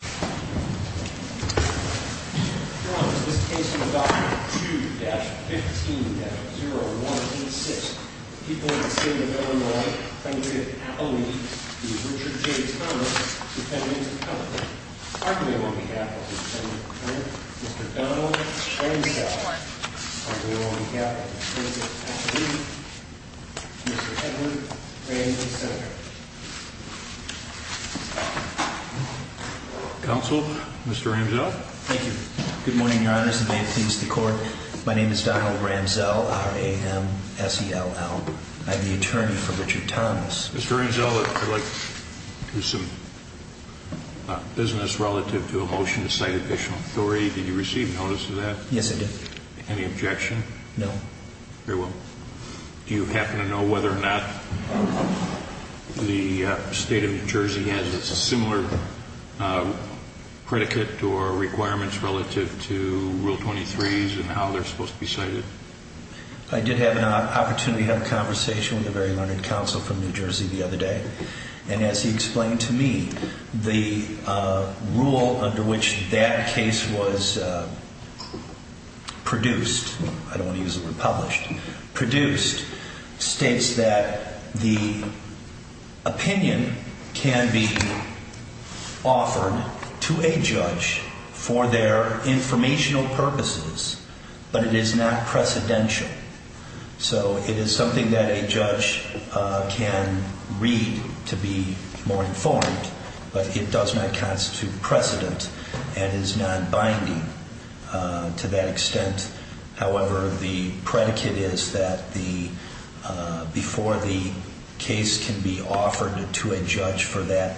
2-15-0186. People in the state of Illinois thank you for the opportunity to be with Richard J. Thomas, Superintendent of Colorado. On behalf of the Superintendent of Colorado, Mr. Donald Ramsey. On behalf of the District Attorney, Mr. Edward Ramsey, Senator. Counsel, Mr. Ramsell. Thank you. Good morning, your honors, and may it please the court. My name is Donald Ramsell, R-A-M-S-E-L-L. I'm the attorney for Richard Thomas. Mr. Ramsell, I'd like to do some business relative to a motion to cite official authority. Did you receive notice of that? Yes, I did. Any objection? No. Very well. Do you happen to know whether or not the state of New Jersey has a similar predicate or requirements relative to Rule 23s and how they're supposed to be cited? I did have an opportunity to have a conversation with a very learned counsel from New Jersey the other day. And as he explained to me, the rule under which that case was produced, I don't want to use the word published, produced states that the opinion can be offered to a judge for their informational purposes, but it is not precedential. So it is something that a judge can read to be more informed, but it does not constitute precedent and is non-binding to that extent. However, the predicate is that before the case can be offered to a judge for that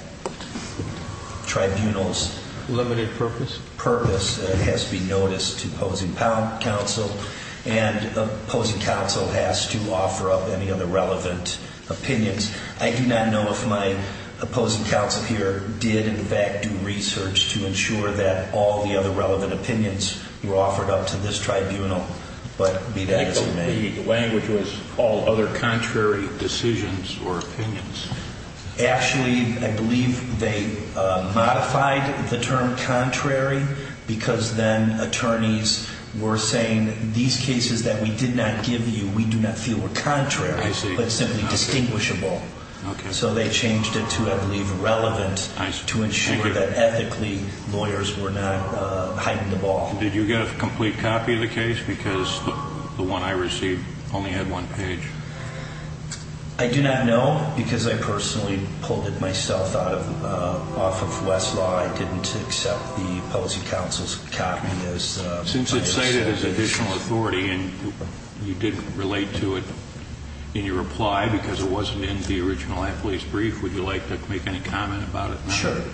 tribunal's purpose, it has to be noticed to opposing counsel, and opposing counsel has to offer up any other relevant opinions. I do not know if my opposing counsel here did, in fact, do research to ensure that all the other relevant opinions were offered up to this tribunal, but be that as it may. I believe the language was all other contrary decisions or opinions. Actually, I believe they modified the term contrary because then attorneys were saying, these cases that we did not give you, we do not feel were contrary, but simply distinguishable. So they changed it to, I believe, relevant to ensure that ethically lawyers were not hiding the ball. Did you get a complete copy of the case? Because the one I received only had one page. I do not know because I personally pulled it myself off of Westlaw. I did not accept the opposing counsel's copy. Since it is cited as additional authority and you did not relate to it in your reply because it was not in the original appellee's brief, would you like to make any comment about it now?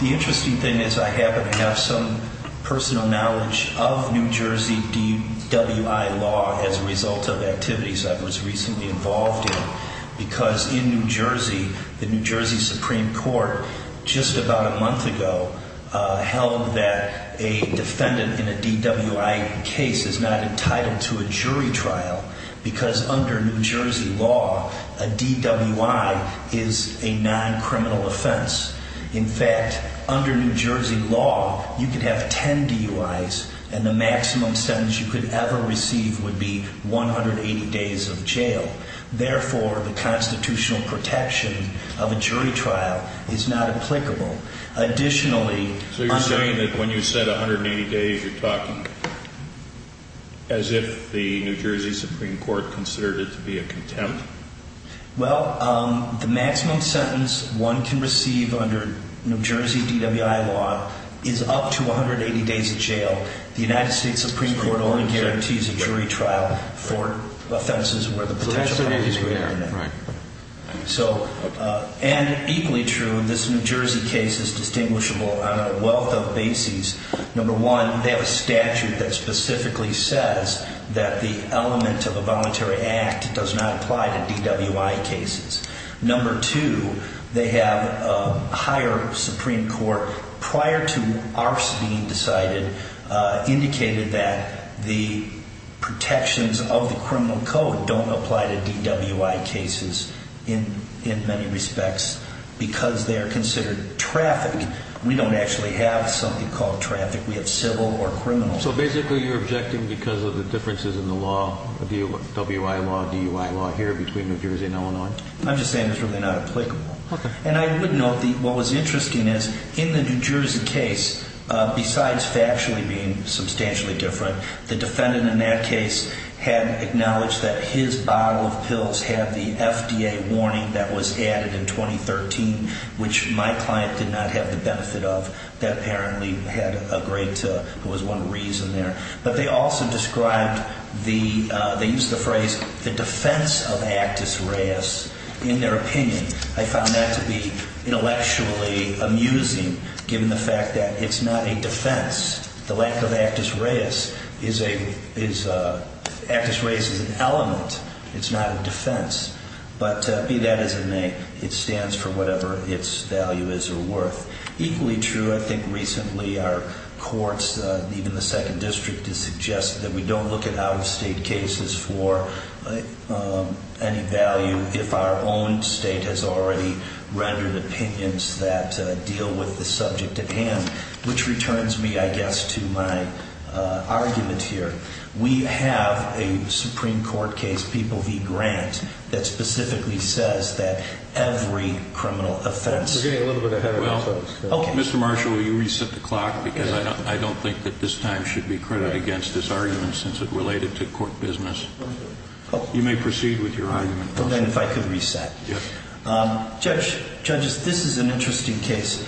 The interesting thing is I happen to have some personal knowledge of New Jersey DWI law as a result of activities I was recently involved in. Because in New Jersey, the New Jersey Supreme Court just about a month ago held that a defendant in a DWI case is not entitled to a jury trial. Because under New Jersey law, a DWI is a non-criminal offense. In fact, under New Jersey law, you could have 10 DUIs and the maximum sentence you could ever receive would be 180 days of jail. Therefore, the constitutional protection of a jury trial is not applicable. So you're saying that when you said 180 days, you're talking as if the New Jersey Supreme Court considered it to be a contempt? Well, the maximum sentence one can receive under New Jersey DWI law is up to 180 days of jail. The United States Supreme Court only guarantees a jury trial for offenses where the potential penalty is greater than that. And equally true, this New Jersey case is distinguishable on a wealth of bases. Number one, they have a statute that specifically says that the element of a voluntary act does not apply to DWI cases. Number two, they have a higher Supreme Court, prior to ours being decided, indicated that the protections of the criminal code don't apply to DWI cases in many respects because they are considered traffic. We don't actually have something called traffic. We have civil or criminal. So basically you're objecting because of the differences in the law, DWI law, DUI law here between New Jersey and Illinois? I'm just saying it's really not applicable. And I would note that what was interesting is in the New Jersey case, besides factually being substantially different, the defendant in that case had acknowledged that his bottle of pills had the FDA warning that was added in 2013, which my client did not have the benefit of. That apparently had a great, it was one reason there. But they also described the, they used the phrase, the defense of Actus Reis in their opinion. I found that to be intellectually amusing given the fact that it's not a defense. The lack of Actus Reis is a, Actus Reis is an element. It's not a defense. But be that as it may, it stands for whatever its value is or worth. Equally true, I think recently our courts, even the second district, has suggested that we don't look at out-of-state cases for any value if our own state has already rendered opinions that deal with the subject at hand, which returns me, I guess, to my argument here. We have a Supreme Court case, People v. Grant, that specifically says that every criminal offense... We're getting a little bit ahead of ourselves. Mr. Marshall, will you reset the clock because I don't think that this time should be credited against this argument since it related to court business. You may proceed with your argument. Well then, if I could reset. Judge, judges, this is an interesting case.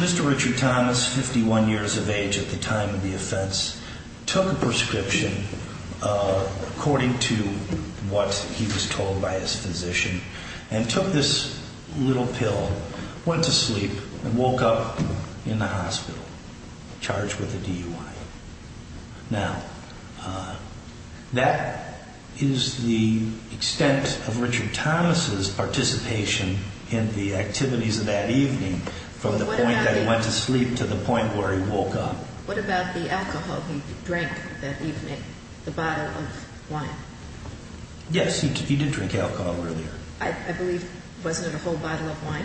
Mr. Richard Thomas, 51 years of age at the time of the offense, took a prescription according to what he was told by his physician and took this little pill, went to sleep, and woke up in the hospital charged with a DUI. Now, that is the extent of Richard Thomas' participation in the activities of that evening from the point that he went to sleep to the point where he woke up. What about the alcohol he drank that evening, the bottle of wine? Yes, he did drink alcohol earlier. I believe, was it a whole bottle of wine?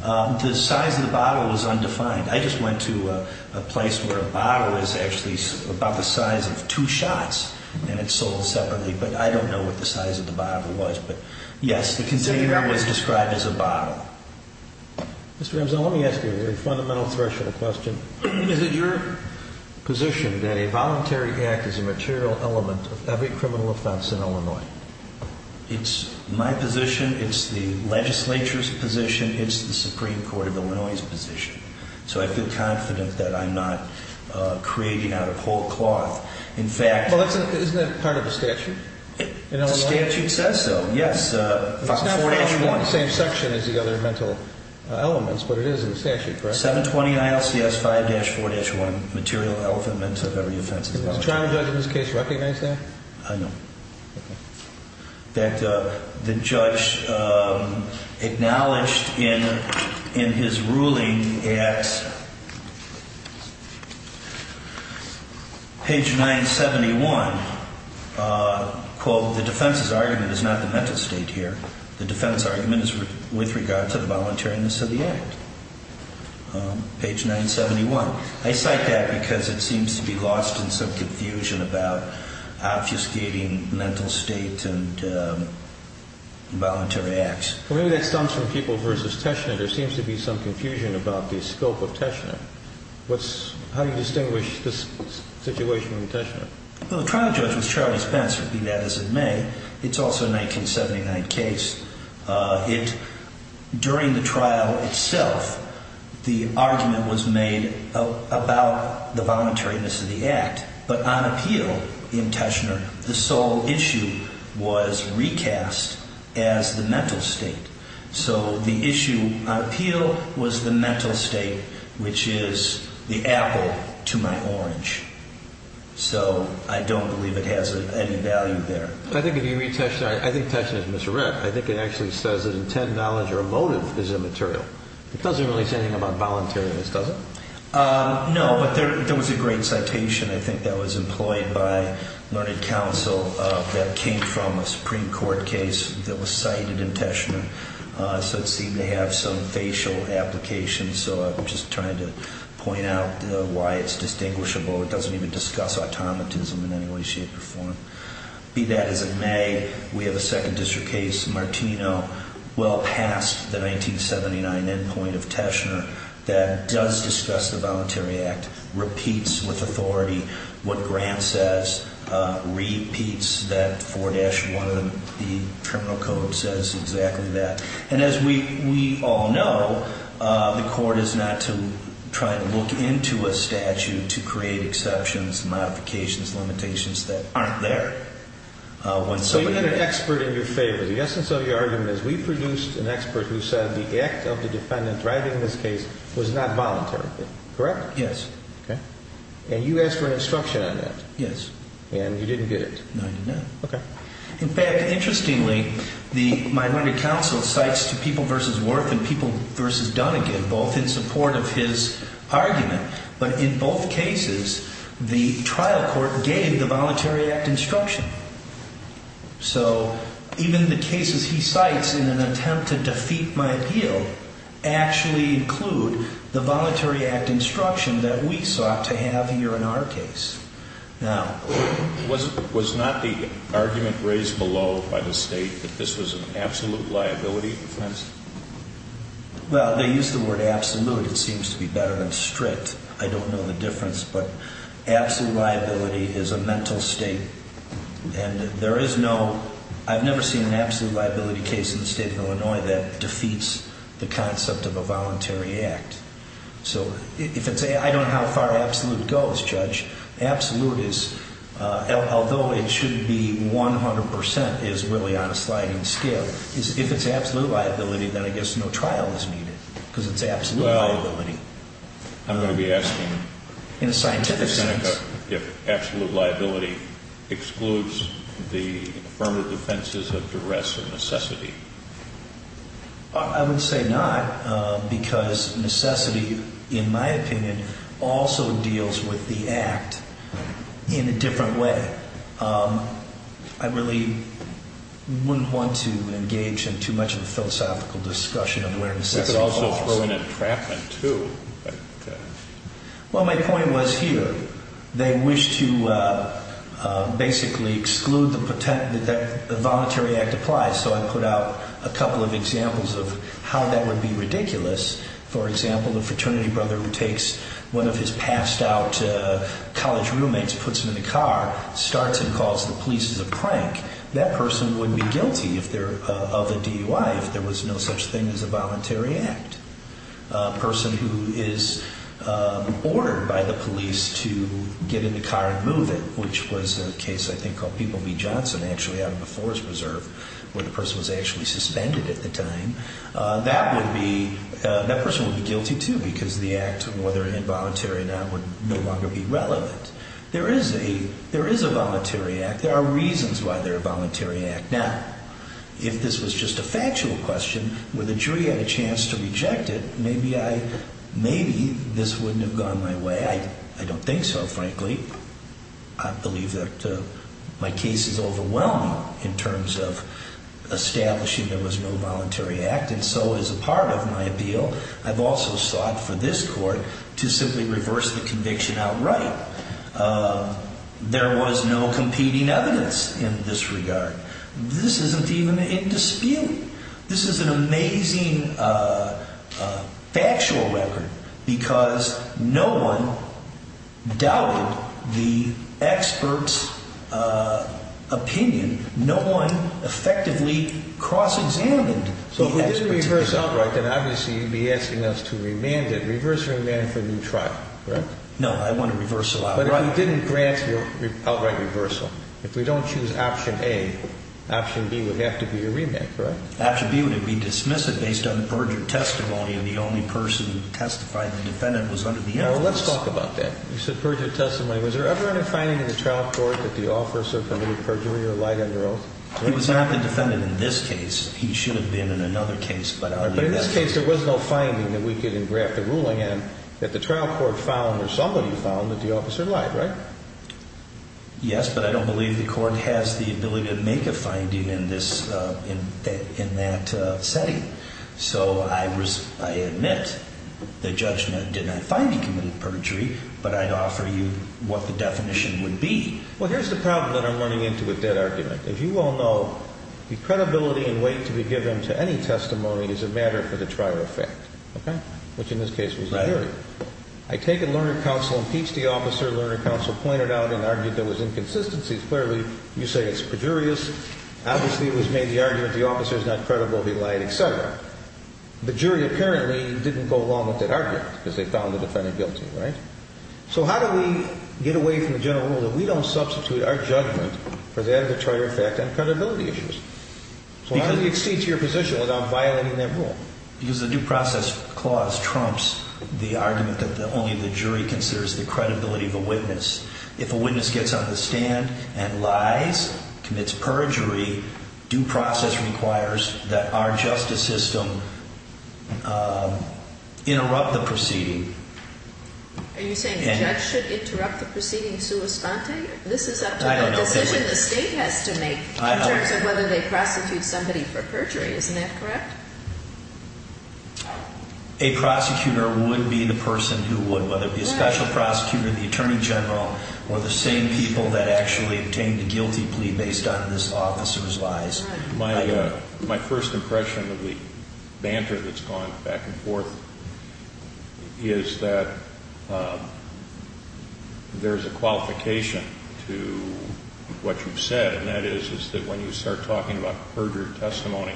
The size of the bottle was undefined. I just went to a place where a bottle is actually about the size of two shots and it's sold separately. But I don't know what the size of the bottle was. But yes, the container was described as a bottle. Mr. Ramsey, let me ask you a fundamental threshold question. Is it your position that a voluntary act is a material element of every criminal offense in Illinois? It's my position. It's the legislature's position. It's the Supreme Court of Illinois' position. So I feel confident that I'm not creating out of whole cloth. Isn't that part of the statute? The statute says so, yes. It's not in the same section as the other mental elements, but it is in the statute, correct? 720 ILCS 5-4-1, material element of every offense. Does the trial judge in this case recognize that? I know. That the judge acknowledged in his ruling at page 971, quote, the defense's argument is not the mental state here. The defense's argument is with regard to the voluntariness of the act. Page 971. I cite that because it seems to be lost in some confusion about obfuscating mental state and voluntary acts. Well, maybe that stems from people versus Teshnet. There seems to be some confusion about the scope of Teshnet. How do you distinguish this situation from Teshnet? Well, the trial judge was Charlie Spencer, be that as it may. It's also a 1979 case. During the trial itself, the argument was made about the voluntariness of the act. But on appeal in Teshnet, the sole issue was recast as the mental state. So the issue on appeal was the mental state, which is the apple to my orange. So I don't believe it has any value there. I think if you read Teshnet, I think Teshnet is misread. I think it actually says that intent, knowledge, or motive is immaterial. It doesn't really say anything about voluntariness, does it? No, but there was a great citation, I think, that was employed by learned counsel that came from a Supreme Court case that was cited in Teshnet. So it seemed to have some facial application. So I'm just trying to point out why it's distinguishable. It doesn't even discuss automatism in any way, shape, or form. Be that as it may, we have a Second District case, Martino, well past the 1979 endpoint of Teshnet that does discuss the Voluntary Act, repeats with authority what Grant says, repeats that 4-1 of the Criminal Code says exactly that. And as we all know, the court is not trying to look into a statute to create exceptions, modifications, limitations that aren't there. So you had an expert in your favor. The essence of your argument is we produced an expert who said the act of the defendant driving this case was not voluntary, correct? Yes. And you asked for an instruction on that. Yes. And you didn't get it. No, I did not. Okay. In fact, interestingly, the my learned counsel cites to People v. Worth and People v. Dunnegan, both in support of his argument, but in both cases the trial court gave the Voluntary Act instruction. So even the cases he cites in an attempt to defeat my appeal actually include the Voluntary Act instruction that we sought to have here in our case. Now, was not the argument raised below by the State that this was an absolute liability offense? Well, they use the word absolute. It seems to be better than strict. I don't know the difference, but absolute liability is a mental state. And there is no, I've never seen an absolute liability case in the state of Illinois that defeats the concept of a Voluntary Act. So if it's a, I don't know how far absolute goes, Judge. Absolute is, although it shouldn't be 100% is really on a sliding scale. If it's absolute liability, then I guess no trial is needed because it's absolute liability. Well, I'm going to be asking. In a scientific sense. If absolute liability excludes the affirmative defenses of duress or necessity. I would say not because necessity, in my opinion, also deals with the act in a different way. I really wouldn't want to engage in too much of a philosophical discussion of where necessity falls. You could also throw in a trap in too. Well, my point was here. They wish to basically exclude the Voluntary Act applies. So I put out a couple of examples of how that would be ridiculous. For example, the fraternity brother who takes one of his passed out college roommates, puts them in the car, starts and calls the police as a prank. That person would be guilty of a DUI if there was no such thing as a Voluntary Act. A person who is ordered by the police to get in the car and move it, which was a case I think called People v. Johnson actually out of the Forest Preserve, where the person was actually suspended at the time. That person would be guilty too because the act, whether involuntary or not, would no longer be relevant. There is a Voluntary Act. There are reasons why there is a Voluntary Act. Now, if this was just a factual question, where the jury had a chance to reject it, maybe this wouldn't have gone my way. I don't think so, frankly. I believe that my case is overwhelming in terms of establishing there was no Voluntary Act, and so as a part of my appeal, I've also sought for this court to simply reverse the conviction outright. There was no competing evidence in this regard. This isn't even in dispute. This is an amazing factual record because no one doubted the expert's opinion. No one effectively cross-examined the expert's opinion. So if we didn't reverse outright, then obviously you'd be asking us to remand it. Reverse or remand for a new trial, right? No, I want a reversal outright. But if we didn't grant your outright reversal, if we don't choose option A, option B would have to be a remand, correct? Option B would be dismissive based on perjured testimony, and the only person who testified, the defendant, was under the influence. Well, let's talk about that. You said perjured testimony. Was there ever any finding in the trial court that the officer committed perjury or lied under oath? He was not the defendant in this case. He should have been in another case. But in this case, there was no finding that we could engraft a ruling in that the trial court found or somebody found that the officer lied, right? Yes, but I don't believe the court has the ability to make a finding in that setting. So I admit the judgment did not find he committed perjury, but I'd offer you what the definition would be. Well, here's the problem that I'm running into with that argument. As you all know, the credibility and weight to be given to any testimony is a matter for the trial effect, okay, which in this case was a jury. I take a learner counsel and impeach the officer. Learner counsel pointed out and argued there was inconsistencies. Clearly, you say it's perjurious. Obviously, it was made the argument the officer is not credible, he lied, et cetera. The jury apparently didn't go along with that argument because they found the defendant guilty, right? So how do we get away from the general rule that we don't substitute our judgment for that of the trial effect on credibility issues? So how do you accede to your position without violating that rule? Because the due process clause trumps the argument that only the jury considers the credibility of a witness. If a witness gets on the stand and lies, commits perjury, due process requires that our justice system interrupt the proceeding. Are you saying the judge should interrupt the proceeding sua sponte? This is up to the decision the state has to make in terms of whether they prosecute somebody for perjury. Isn't that correct? A prosecutor would be the person who would, whether it be a special prosecutor, the attorney general, or the same people that actually obtained a guilty plea based on this officer's lies. My first impression of the banter that's gone back and forth is that there's a qualification to what you've said, and that is that when you start talking about perjury testimony,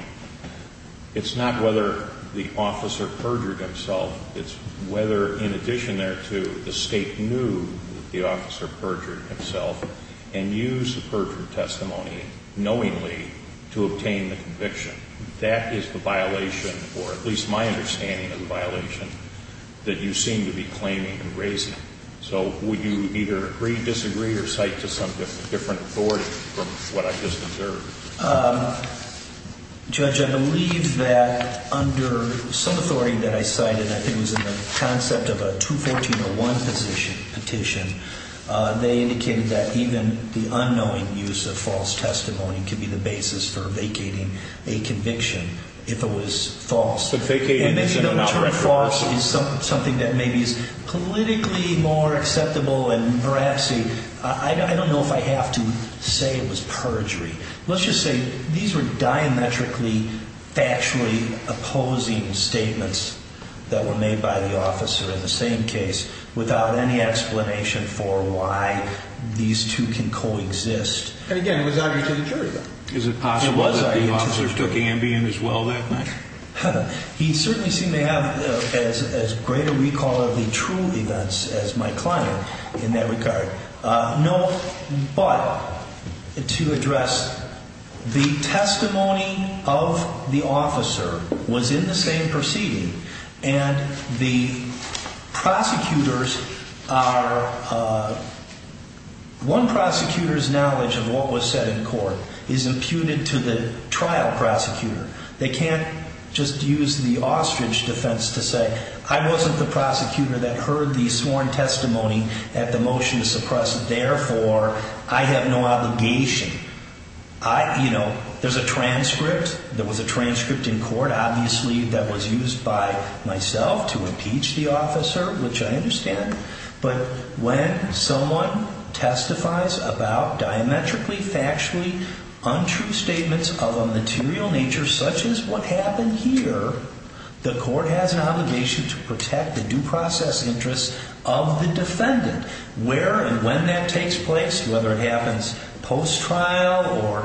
it's not whether the officer perjured himself. It's whether, in addition thereto, the state knew the officer perjured himself and used the perjury testimony knowingly to obtain the conviction. That is the violation, or at least my understanding of the violation, that you seem to be claiming and raising. So would you either agree, disagree, or cite to some different authority from what I've just observed? Judge, I believe that under some authority that I cited, I think it was in the concept of a 214.01 petition, they indicated that even the unknowing use of false testimony could be the basis for vacating a conviction if it was false. And maybe the term false is something that maybe is politically more acceptable and veracity. I don't know if I have to say it was perjury. Let's just say these were diametrically, factually opposing statements that were made by the officer in the same case without any explanation for why these two can coexist. And again, it was argued to the jury, though. Is it possible that the officer took Ambien as well that night? He certainly seemed to have as great a recall of the true events as my client in that regard. No, but to address the testimony of the officer was in the same proceeding, and the prosecutors are, one prosecutor's knowledge of what was said in court is imputed to the trial prosecutor. They can't just use the ostrich defense to say, I wasn't the prosecutor that heard the sworn testimony at the motion to suppress. Therefore, I have no obligation. There's a transcript. There was a transcript in court, obviously, that was used by myself to impeach the officer, which I understand. But when someone testifies about diametrically, factually untrue statements of a material nature, such as what happened here, the court has an obligation to protect the due process interests of the defendant. Where and when that takes place, whether it happens post-trial or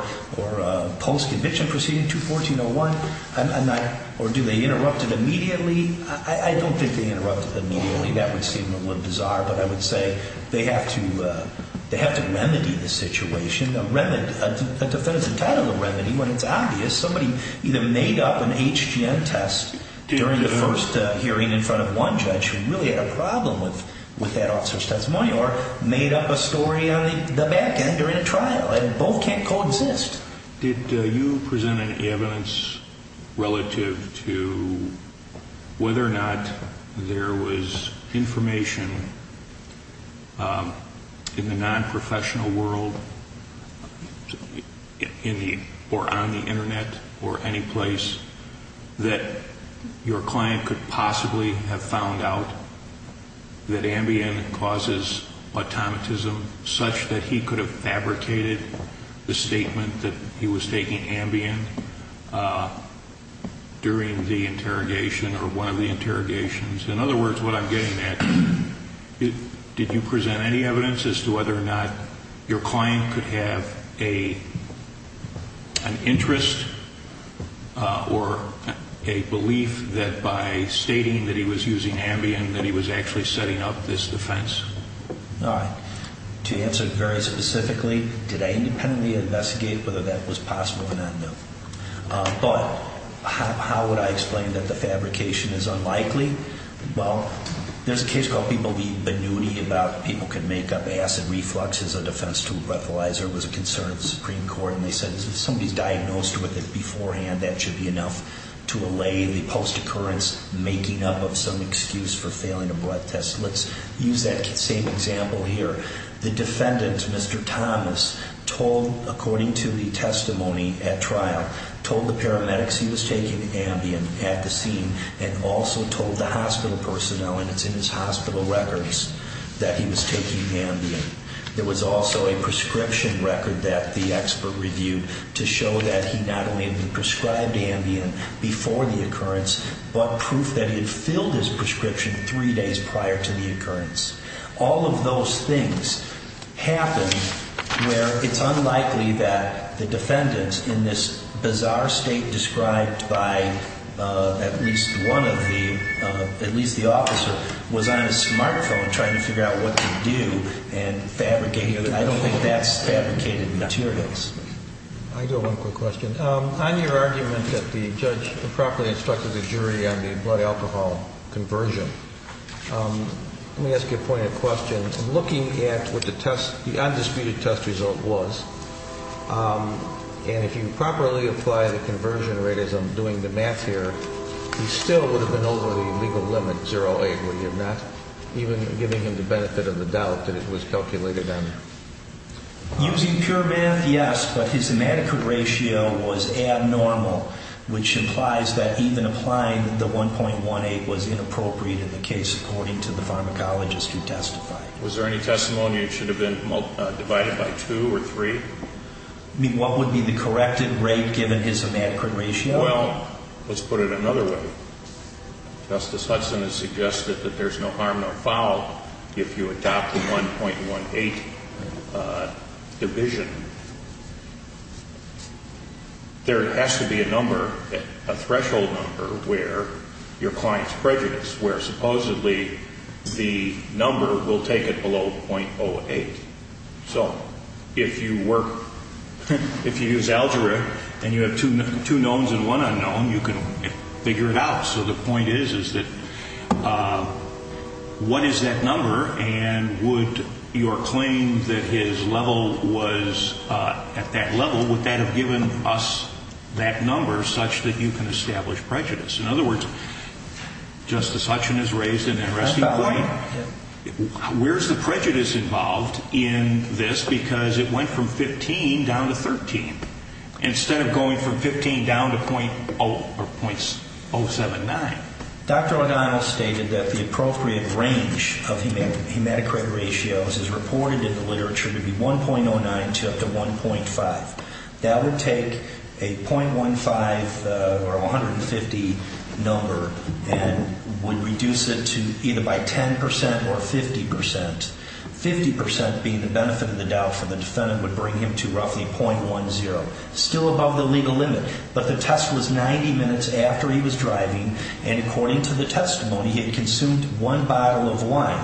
post-conviction proceeding, 214.01, or do they interrupt it immediately? I don't think they interrupt it immediately. That would seem a little bizarre, but I would say they have to remedy the situation. A defendant's entitled to remedy when it's obvious. Somebody either made up an HGM test during the first hearing in front of one judge who really had a problem with that officer's testimony, or made up a story on the back end during a trial, and both can't coexist. Did you present any evidence relative to whether or not there was information in the non-professional world or on the Internet or any place that your client could possibly have found out that Ambien causes automatism, such that he could have fabricated the statement that he was taking Ambien during the interrogation or one of the interrogations? In other words, what I'm getting at, did you present any evidence as to whether or not your client could have an interest or a belief that by stating that he was using Ambien that he was actually setting up this defense? All right. To answer it very specifically, did I independently investigate whether that was possible or not? No. But how would I explain that the fabrication is unlikely? Well, there's a case called people being benign about people can make up acid reflux as a defense to a breathalyzer. It was a concern of the Supreme Court, and they said if somebody's diagnosed with it beforehand, that should be enough to allay the post-occurrence making up of some excuse for failing a blood test. Let's use that same example here. The defendant, Mr. Thomas, told, according to the testimony at trial, told the paramedics he was taking Ambien at the scene and also told the hospital personnel, and it's in his hospital records, that he was taking Ambien. There was also a prescription record that the expert reviewed to show that he not only had been prescribed Ambien before the occurrence, but proof that he had filled his prescription three days prior to the occurrence. All of those things happen where it's unlikely that the defendant, in this bizarre state described by at least one of the, at least the officer, was on his smartphone trying to figure out what to do and fabricate. I don't think that's fabricated materials. I do have one quick question. On your argument that the judge improperly instructed the jury on the blood alcohol conversion, let me ask you a point of question. Looking at what the undisputed test result was, and if you properly apply the conversion rate as I'm doing the math here, he still would have been over the legal limit, 0.8, would you have not? Even giving him the benefit of the doubt that it was calculated on. Using pure math, yes, but his hematocrit ratio was abnormal, which implies that even applying the 1.18 was inappropriate in the case according to the pharmacologist who testified. Was there any testimony that it should have been divided by two or three? I mean, what would be the corrected rate given his hematocrit ratio? Well, let's put it another way. Justice Hudson has suggested that there's no harm no foul if you adopt the 1.18 division. There has to be a number, a threshold number, where your client's prejudice, where supposedly the number will take it below 0.08. So if you work, if you use algebra and you have two knowns and one unknown, you can figure it out. So the point is, is that what is that number and would your claim that his level was at that level, would that have given us that number such that you can establish prejudice? In other words, Justice Hudson has raised an interesting point. Where's the prejudice involved in this? Because it went from 15 down to 13 instead of going from 15 down to 0.079. Dr. O'Donnell stated that the appropriate range of hematocrit ratios is reported in the literature to be 1.09 to up to 1.5. That would take a 0.15 or 150 number and would reduce it to either by 10% or 50%. 50% being the benefit of the doubt for the defendant would bring him to roughly 0.10, still above the legal limit. But the test was 90 minutes after he was driving, and according to the testimony, he had consumed one bottle of wine,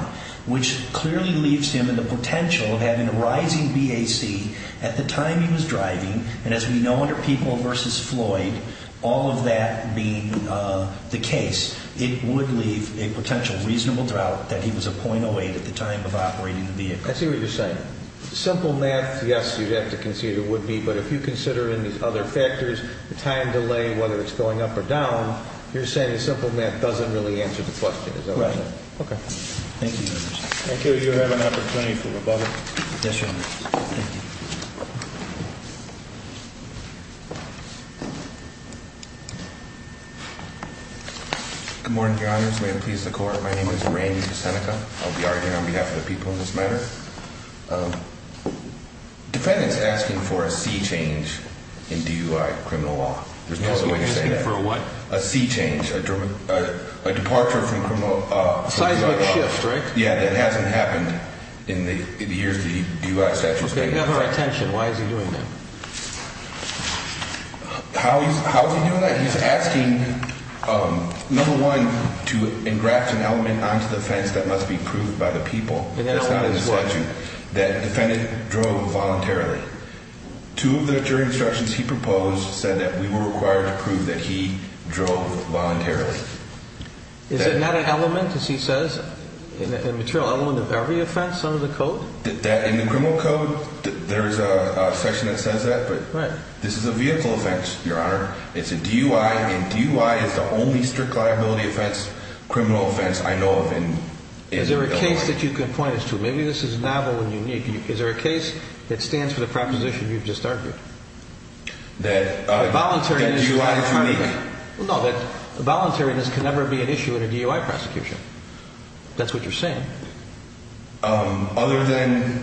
which clearly leaves him in the potential of having a rising BAC at the time he was driving, and as we know under People v. Floyd, all of that being the case, it would leave a potential reasonable doubt that he was a 0.08 at the time of operating the vehicle. I see what you're saying. Simple math, yes, you'd have to consider would be, but if you consider any other factors, the time delay, whether it's going up or down, you're saying simple math doesn't really answer the question. Right. Okay. Thank you, Your Honor. Thank you. You have an opportunity for rebuttal. Yes, Your Honor. Thank you. Good morning, Your Honors. May it please the Court. My name is Randy Busenica. I'll be arguing on behalf of the people in this matter. Defendant's asking for a C change in DUI criminal law. There's no other way to say that. Asking for a what? A C change. A departure from criminal law. A seismic shift, right? Yeah, that hasn't happened in the years the DUI statute's been in effect. Okay, you have our attention. Why is he doing that? How is he doing that? He's asking, number one, to engraft an element onto the fence that must be proved by the people. That's not in the statute. That defendant drove voluntarily. Two of the jury instructions he proposed said that we were required to prove that he drove voluntarily. Is it not an element, as he says, a material element of every offense under the code? In the criminal code, there's a section that says that, but this is a vehicle offense, Your Honor. It's a DUI, and DUI is the only strict liability offense, criminal offense, I know of. Is there a case that you can point us to? Maybe this is novel and unique. Is there a case that stands for the proposition you've just argued? That DUI is unique? No, that voluntariness can never be an issue in a DUI prosecution. If that's what you're saying. Other than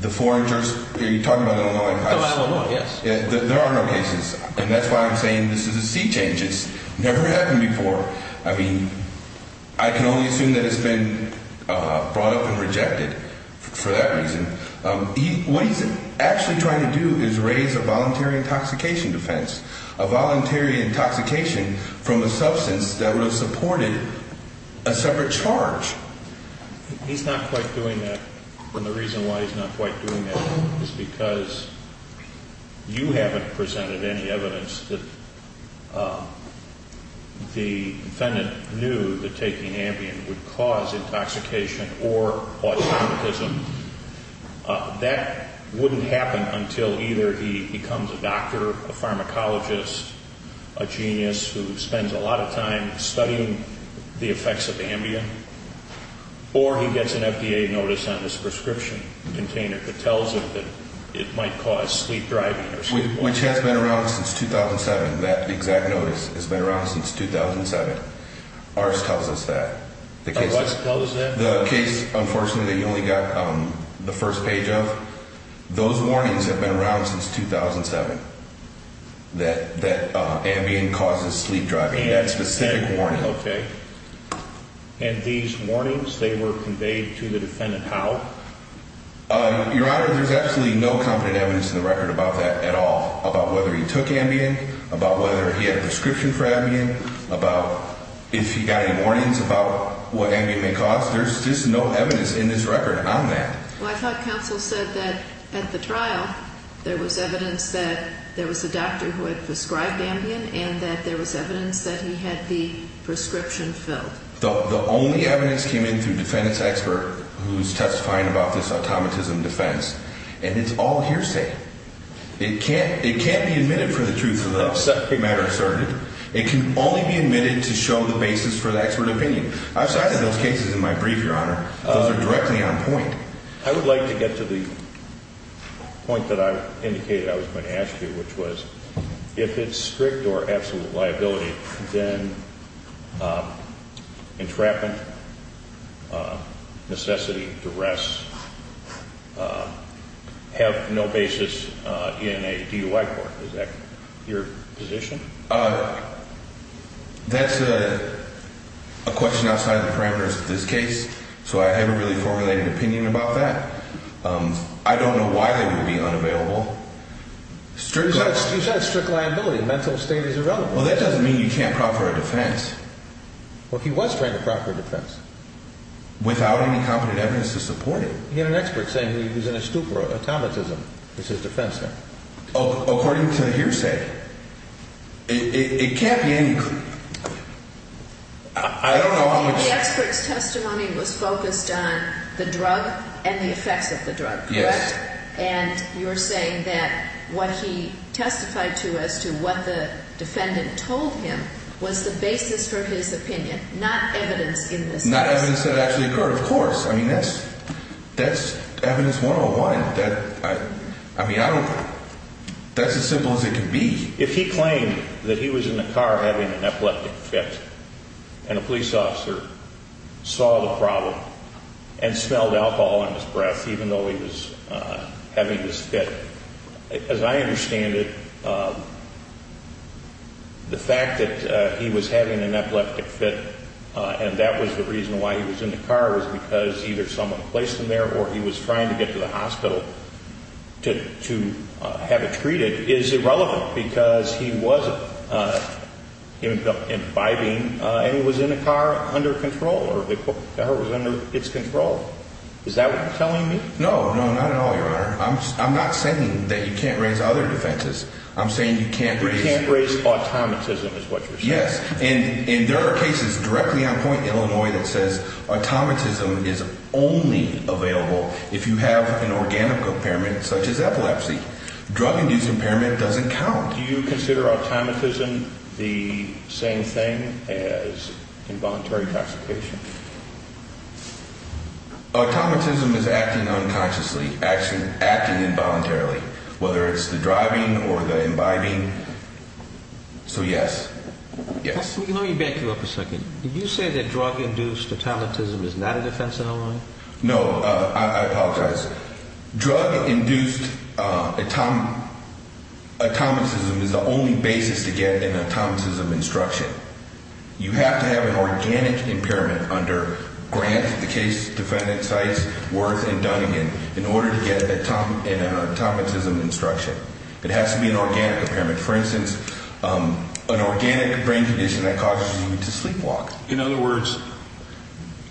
the foreign jurist? Are you talking about Illinois? Illinois, yes. There are no cases, and that's why I'm saying this is a C change. It's never happened before. I can only assume that it's been brought up and rejected for that reason. What he's actually trying to do is raise a voluntary intoxication defense, a voluntary intoxication from a substance that would have supported a separate charge. He's not quite doing that, and the reason why he's not quite doing that is because you haven't presented any evidence that the defendant knew that taking Ambien would cause intoxication or autonomism. That wouldn't happen until either he becomes a doctor, a pharmacologist, a genius who spends a lot of time studying the effects of Ambien, or he gets an FDA notice on his prescription container that tells him that it might cause sleep driving. Which has been around since 2007. That exact notice has been around since 2007. Ours tells us that. Ours tells us that? The case, unfortunately, that you only got the first page of. Those warnings have been around since 2007 that Ambien causes sleep driving, that specific warning. Okay. And these warnings, they were conveyed to the defendant how? Your Honor, there's absolutely no competent evidence in the record about that at all, about whether he took Ambien, about whether he had a prescription for Ambien, about if he got any warnings about what Ambien may cause. There's just no evidence in this record on that. Well, I thought counsel said that at the trial there was evidence that there was a doctor who had prescribed Ambien and that there was evidence that he had the prescription filled. The only evidence came in through defendant's expert who's testifying about this automatism defense, and it's all hearsay. It can't be admitted for the truth of the matter asserted. It can only be admitted to show the basis for the expert opinion. I've cited those cases in my brief, Your Honor. Those are directly on point. I would like to get to the point that I indicated I was going to ask you, which was if it's strict or absolute liability, then entrapment, necessity, duress have no basis in a DUI court. Is that your position? That's a question outside the parameters of this case, so I haven't really formulated an opinion about that. I don't know why they would be unavailable. You said it's strict liability. Mental state is irrelevant. Well, that doesn't mean you can't proffer a defense. Well, he was trying to proffer a defense. Without any competent evidence to support it. He had an expert saying he was in a stupor, automatism is his defense. According to hearsay. It can't be any – I don't know how much – The expert's testimony was focused on the drug and the effects of the drug, correct? Yes. And you're saying that what he testified to as to what the defendant told him was the basis for his opinion, not evidence in this case. Not evidence that actually occurred, of course. I mean, that's evidence 101. I mean, I don't – that's as simple as it can be. If he claimed that he was in the car having an epileptic fit and a police officer saw the problem and smelled alcohol in his breath, even though he was having this fit, as I understand it, the fact that he was having an epileptic fit and that was the reason why he was in the car was because either someone placed him there or he was trying to get to the hospital to have it treated is irrelevant because he wasn't imbibing and he was in the car under control or the car was under its control. Is that what you're telling me? No, no, not at all, Your Honor. I'm not saying that you can't raise other defenses. I'm saying you can't raise – You can't raise automatism is what you're saying. Yes, and there are cases directly on point in Illinois that says automatism is only available if you have an organic impairment such as epilepsy. Drug-induced impairment doesn't count. Do you consider automatism the same thing as involuntary intoxication? Automatism is acting unconsciously, acting involuntarily, whether it's the driving or the imbibing. So, yes, yes. Let me back you up a second. Did you say that drug-induced automatism is not a defense in Illinois? No, I apologize. Drug-induced automatism is the only basis to get an automatism instruction. You have to have an organic impairment under Grant, the case defendant cites Worth and Dunnigan in order to get an automatism instruction. It has to be an organic impairment. For instance, an organic brain condition that causes you to sleepwalk. In other words,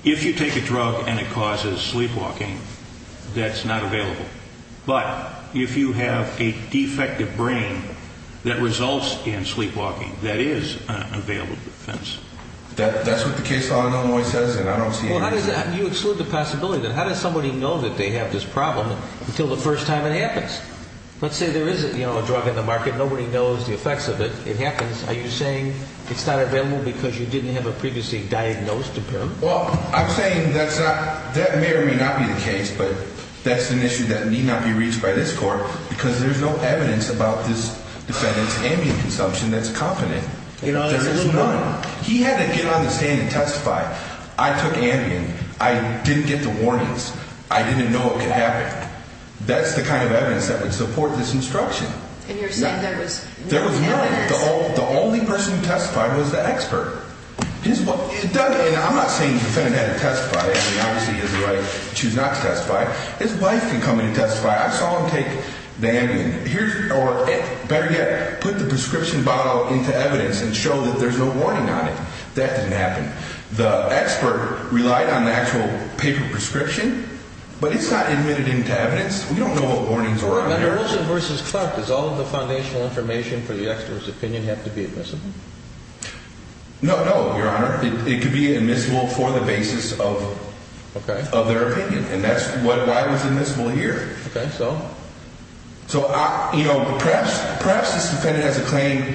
if you take a drug and it causes sleepwalking, that's not available. But if you have a defective brain that results in sleepwalking, that is an available defense. That's what the case in Illinois says, and I don't see any reason – Well, how does that – you exclude the possibility. How does somebody know that they have this problem until the first time it happens? Let's say there is a drug on the market. Nobody knows the effects of it. It happens. Are you saying it's not available because you didn't have a previously diagnosed impairment? Well, I'm saying that's not – that may or may not be the case, but that's an issue that need not be reached by this court because there's no evidence about this defendant's Ambien consumption that's confident. There is none. He had to get on the stand and testify. I took Ambien. I didn't get the warnings. I didn't know it could happen. That's the kind of evidence that would support this instruction. And you're saying there was no evidence? There was none. The only person who testified was the expert. His – and I'm not saying the defendant had to testify. I mean, obviously, he has the right to choose not to testify. His wife can come in and testify. I saw him take the Ambien, or better yet, put the prescription bottle into evidence and show that there's no warning on it. That didn't happen. The expert relied on the actual paper prescription, but it's not admitted into evidence. We don't know what warnings were on there. Under Wilson v. Clark, does all of the foundational information for the expert's opinion have to be admissible? No, no, Your Honor. It could be admissible for the basis of their opinion, and that's why it was admissible here. Okay, so? So, you know, perhaps this defendant has a claim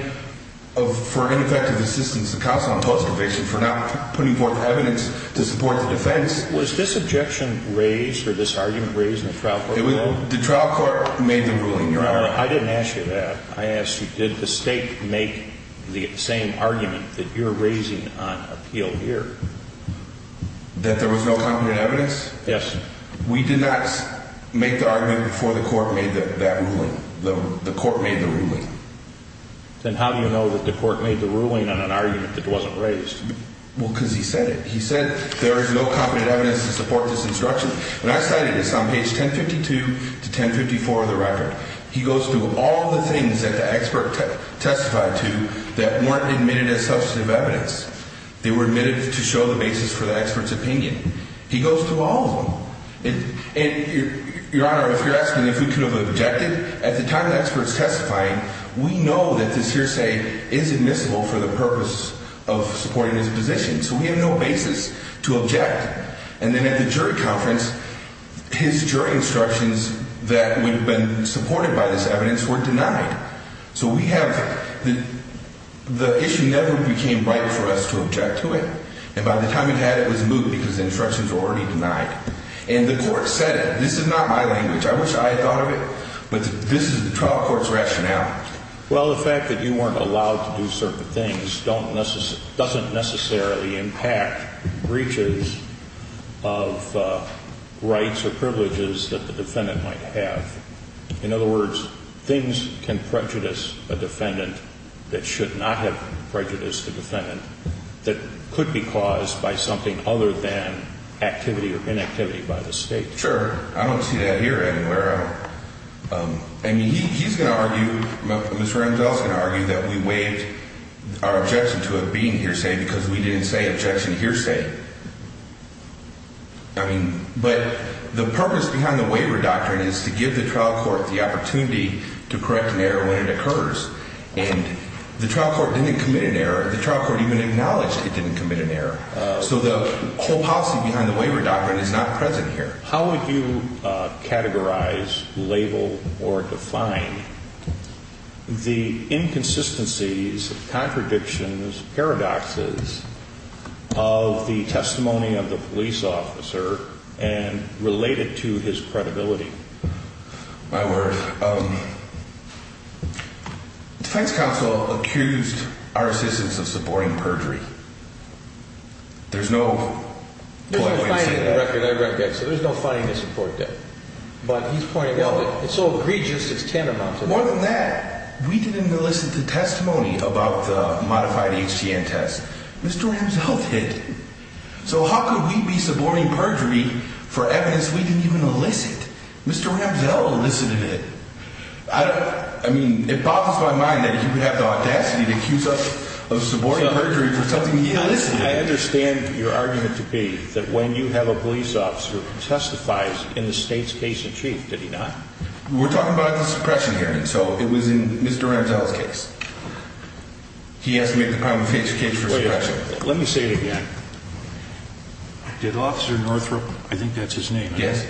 for ineffective assistance, the counsel on post conviction, for not putting forth evidence to support the defense. Was this objection raised or this argument raised in the trial court? The trial court made the ruling, Your Honor. I didn't ask you that. I asked you, did the state make the same argument that you're raising on appeal here? That there was no competent evidence? Yes. We did not make the argument before the court made that ruling. The court made the ruling. Then how do you know that the court made the ruling on an argument that wasn't raised? Well, because he said it. He said there is no competent evidence to support this instruction. When I cited this on page 1052 to 1054 of the record, he goes through all the things that the expert testified to that weren't admitted as substantive evidence. They were admitted to show the basis for the expert's opinion. He goes through all of them. And, Your Honor, if you're asking if we could have objected, at the time the expert's testifying, we know that this hearsay is admissible for the purpose of supporting his position. So we have no basis to object. And then at the jury conference, his jury instructions that would have been supported by this evidence were denied. So we have the issue never became vital for us to object to it. And by the time he had it, it was moot because the instructions were already denied. And the court said it. This is not my language. But this is the trial court's rationale. Well, the fact that you weren't allowed to do certain things doesn't necessarily impact breaches of rights or privileges that the defendant might have. In other words, things can prejudice a defendant that should not have prejudiced a defendant that could be caused by something other than activity or inactivity by the State. Sure. I don't see that here anywhere else. I mean, he's going to argue, Mr. Ramsdell's going to argue that we waived our objection to it being hearsay because we didn't say objection hearsay. I mean, but the purpose behind the waiver doctrine is to give the trial court the opportunity to correct an error when it occurs. And the trial court didn't commit an error. The trial court even acknowledged it didn't commit an error. So the whole policy behind the waiver doctrine is not present here. How would you categorize, label, or define the inconsistencies, contradictions, paradoxes of the testimony of the police officer and relate it to his credibility? My word. Defense counsel accused our assistants of supporting perjury. There's no polite way to say that. I read that. So there's no fighting to support that. But he's pointing out that it's so egregious, it's tantamount to that. More than that, we didn't elicit the testimony about the modified HTN test. Mr. Ramsdell did. So how could we be supporting perjury for evidence we didn't even elicit? Mr. Ramsdell elicited it. I mean, it bothers my mind that he would have the audacity to accuse us of supporting perjury for something he elicited. I understand your argument to be that when you have a police officer who testifies in the state's case in chief, did he not? We're talking about the suppression hearing. So it was in Mr. Ramsdell's case. He has to make the prima facie case for suppression. Let me say it again. Did Officer Northrop, I think that's his name, right? Yes.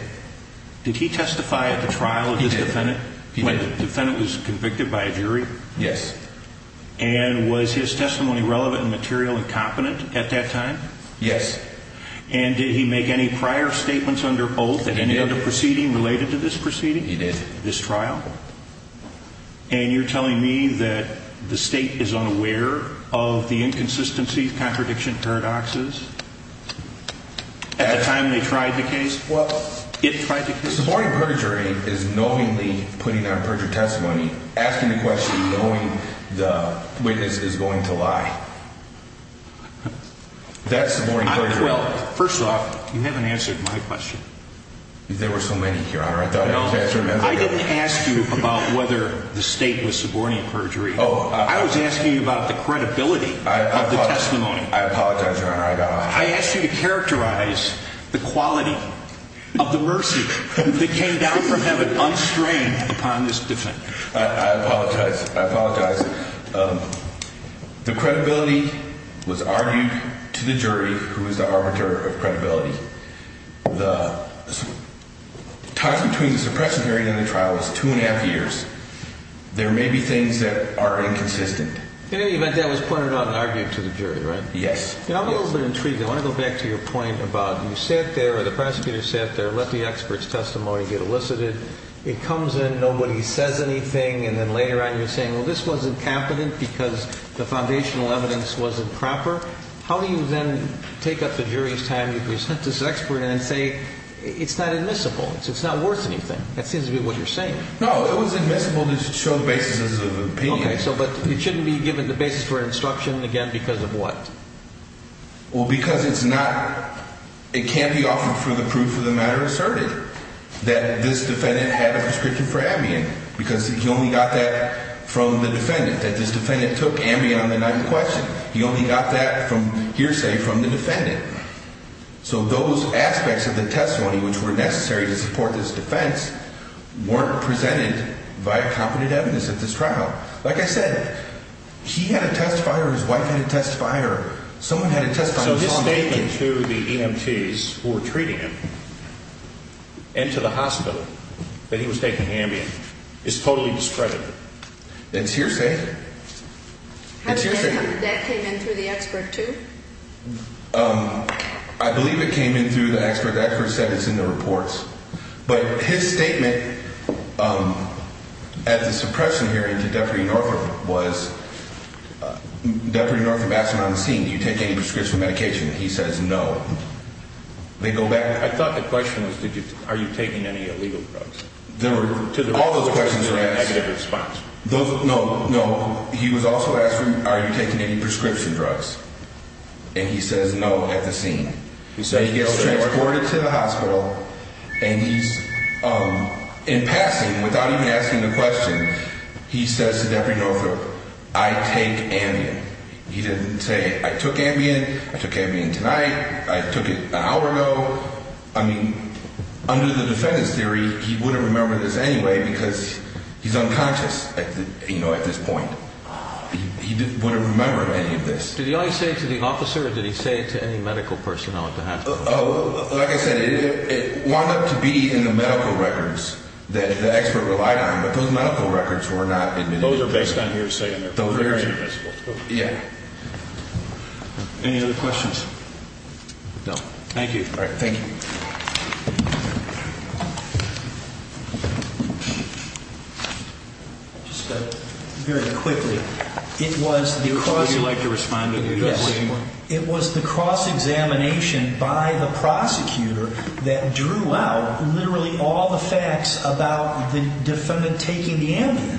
Did he testify at the trial of his defendant? He did. When the defendant was convicted by a jury? Yes. And was his testimony relevant and material and competent at that time? Yes. And did he make any prior statements under oath at any other proceeding related to this proceeding? He did. This trial? And you're telling me that the state is unaware of the inconsistencies, contradiction, paradoxes at the time they tried the case? Supporting perjury is knowingly putting on perjury testimony, asking the question knowing the witness is going to lie. That's supporting perjury. Well, first off, you haven't answered my question. There were so many here, Your Honor. I didn't ask you about whether the state was supporting perjury. I was asking you about the credibility of the testimony. I apologize, Your Honor. I asked you to characterize the quality of the mercy that came down from heaven unstrained upon this defendant. I apologize. I apologize. The credibility was argued to the jury, who was the arbiter of credibility. The time between the suppression period and the trial was two and a half years. There may be things that are inconsistent. In any event, that was pointed out and argued to the jury, right? Yes. Now, I'm a little bit intrigued. I want to go back to your point about you sat there, or the prosecutor sat there, let the expert's testimony get elicited. It comes in, nobody says anything, and then later on you're saying, well, this wasn't competent because the foundational evidence wasn't proper. How do you then take up the jury's time, you present this expert, and then say, it's not admissible, it's not worth anything? That seems to be what you're saying. No, it was admissible to show the basis of opinion. Okay, but it shouldn't be given the basis for instruction again because of what? Well, because it's not, it can't be offered for the proof of the matter asserted, that this defendant had a prescription for Ambien, because he only got that from the defendant, that this defendant took Ambien on the night in question. He only got that hearsay from the defendant. So those aspects of the testimony which were necessary to support this defense weren't presented via competent evidence at this trial. Like I said, he had a testifier, his wife had a testifier, someone had a testifier. So his statement to the EMTs who were treating him and to the hospital that he was taking Ambien is totally discredited. It's hearsay. That came in through the expert too? I believe it came in through the expert. The expert said it's in the reports. But his statement at the suppression hearing to Deputy Northrup was, Deputy Northrup asked him on the scene, do you take any prescription medication? He says no. They go back. I thought the question was, are you taking any illegal drugs? All those questions were asked. Negative response. No, no. He was also asked, are you taking any prescription drugs? And he says no at the scene. He gets transported to the hospital, and he's in passing, without even asking the question, he says to Deputy Northrup, I take Ambien. He didn't say, I took Ambien, I took Ambien tonight, I took it an hour ago. I mean, under the defendant's theory, he wouldn't remember this anyway because he's unconscious, you know, at this point. He wouldn't remember any of this. Did he only say it to the officer, or did he say it to any medical personnel at the hospital? Like I said, it wound up to be in the medical records that the expert relied on, but those medical records were not in the report. Those are based on your statement. Yeah. Any other questions? No. Thank you. All right, thank you. Just very quickly, it was the cross examination by the prosecutor that drew out literally all the facts about the defendant taking the Ambien.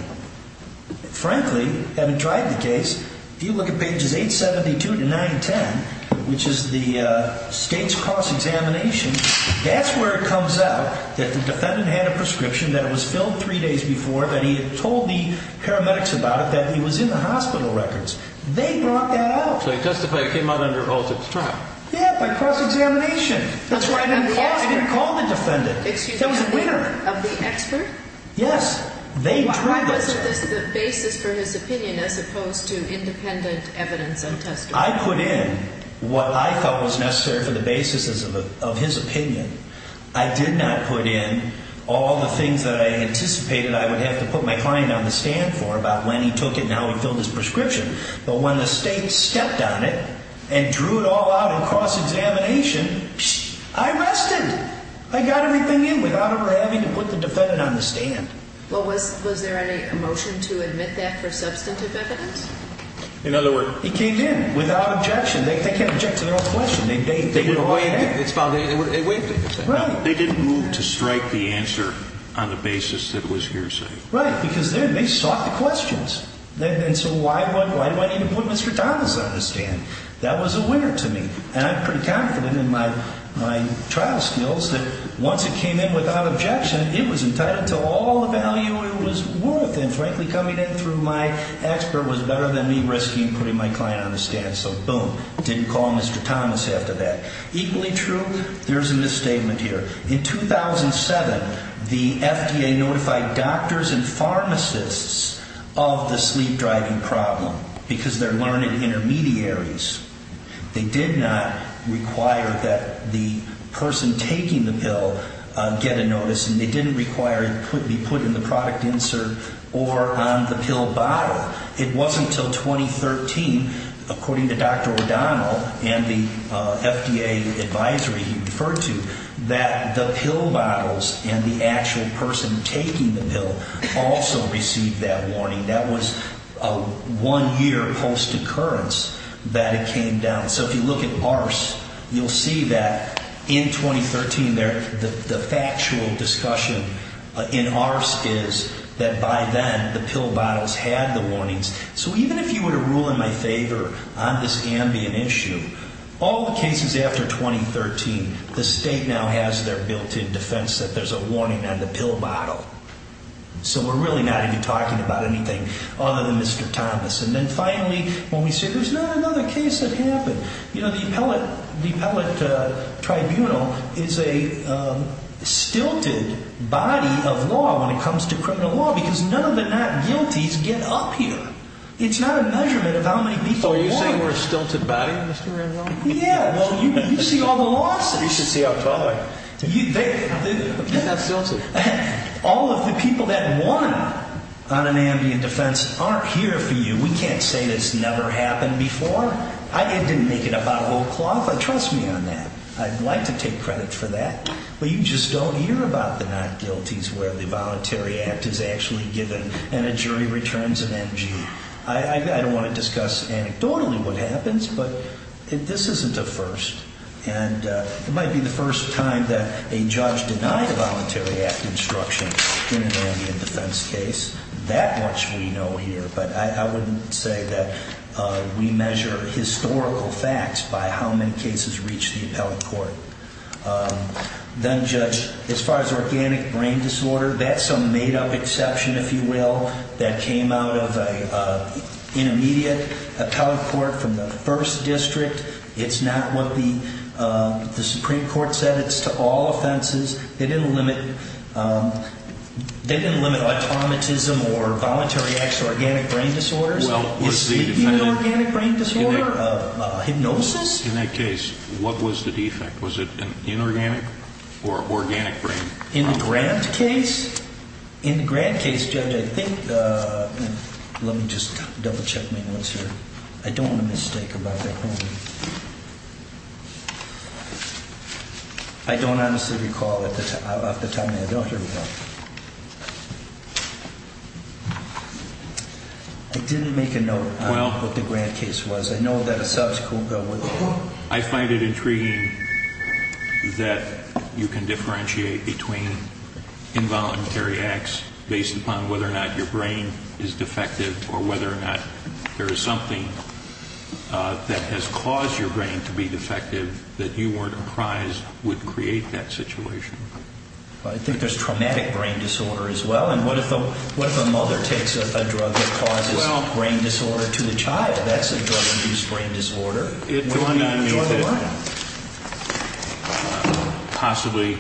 Frankly, having tried the case, if you look at pages 872 to 910, which is the state's cross examination, that's where it comes out that the defendant had a prescription, that it was filled three days before, that he had told the paramedics about it, that he was in the hospital records. They brought that out. So he testified he came out under all sorts of traps. Yeah, by cross examination. That's what I didn't call the defendant. Excuse me. That was a winner. Of the expert? Yes. Why wasn't this the basis for his opinion as opposed to independent evidence and testimony? I put in what I felt was necessary for the basis of his opinion. I did not put in all the things that I anticipated I would have to put my client on the stand for about when he took it and how he filled his prescription. But when the state stepped on it and drew it all out in cross examination, I rested. I got everything in without ever having to put the defendant on the stand. Well, was there any emotion to admit that for substantive evidence? In other words? He came in without objection. They can't object to their own question. They would avoid that. They didn't move to strike the answer on the basis that it was hearsay. Right, because they sought the questions. And so why do I need to put Mr. Donaldson on the stand? That was a winner to me. And I'm pretty confident in my trial skills that once it came in without objection, it was entitled to all the value it was worth. And, frankly, coming in through my expert was better than me risking putting my client on the stand. So, boom, didn't call Mr. Thomas after that. Equally true, there's a misstatement here. In 2007, the FDA notified doctors and pharmacists of the sleep-driving problem because they're learned intermediaries. They did not require that the person taking the pill get a notice. And they didn't require it be put in the product insert or on the pill bottle. It wasn't until 2013, according to Dr. O'Donnell and the FDA advisory he referred to, that the pill bottles and the actual person taking the pill also received that warning. That was a one-year post-occurrence that it came down. So if you look at ARS, you'll see that in 2013, the factual discussion in ARS is that by then, the pill bottles had the warnings. So even if you were to rule in my favor on this ambient issue, all the cases after 2013, the state now has their built-in defense that there's a warning on the pill bottle. So we're really not even talking about anything other than Mr. Thomas. And then finally, when we say there's not another case that happened, you know, the appellate tribunal is a stilted body of law when it comes to criminal law because none of the not-guilties get up here. It's not a measurement of how many people are wrong. So you're saying we're a stilted body, Mr. Randolph? Yeah, well, you see all the lawsuits. You should see October. They're not stilted. All of the people that won on an ambient defense aren't here for you. We can't say this never happened before. I didn't make it up out of old cloth, but trust me on that. I'd like to take credit for that. But you just don't hear about the not-guilties where the voluntary act is actually given and a jury returns an NG. I don't want to discuss anecdotally what happens, but this isn't a first. And it might be the first time that a judge denied a voluntary act instruction in an ambient defense case. That much we know here. But I wouldn't say that we measure historical facts by how many cases reach the appellate court. Then, Judge, as far as organic brain disorder, that's a made-up exception, if you will, that came out of an intermediate appellate court from the first district. It's not what the Supreme Court said. It's to all offenses. They didn't limit automatism or voluntary acts to organic brain disorders. Is sleep inorganic brain disorder? Hypnosis? In that case, what was the defect? Was it inorganic or organic brain? In the Grant case? In the Grant case, Judge, I think... Let me just double-check my notes here. I don't want to mistake about their homing. I don't honestly recall off the top of my head. I didn't make a note on what the Grant case was. I know that a subsequent bill would... I find it intriguing that you can differentiate between involuntary acts based upon whether or not your brain is defective or whether or not there is something that has caused your brain to be defective that you weren't apprised would create that situation. I think there's traumatic brain disorder as well. And what if a mother takes a drug that causes brain disorder to the child? That's a drug-induced brain disorder. It dawned on me that possibly...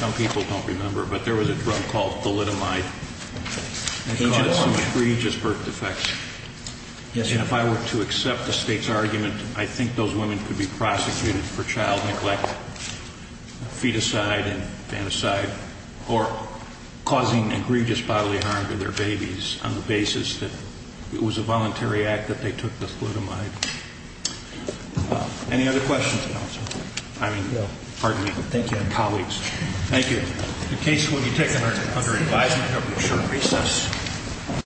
Some people don't remember, but there was a drug called thalidomide that caused some egregious birth defects. And if I were to accept the State's argument, I think those women could be prosecuted for child neglect, feticide and fantaside, or causing egregious bodily harm to their babies on the basis that it was a voluntary act that they took the thalidomide. Any other questions, Counselor? No. Pardon me. Thank you. Colleagues. Thank you. The case will be taken under advisement after a short recess.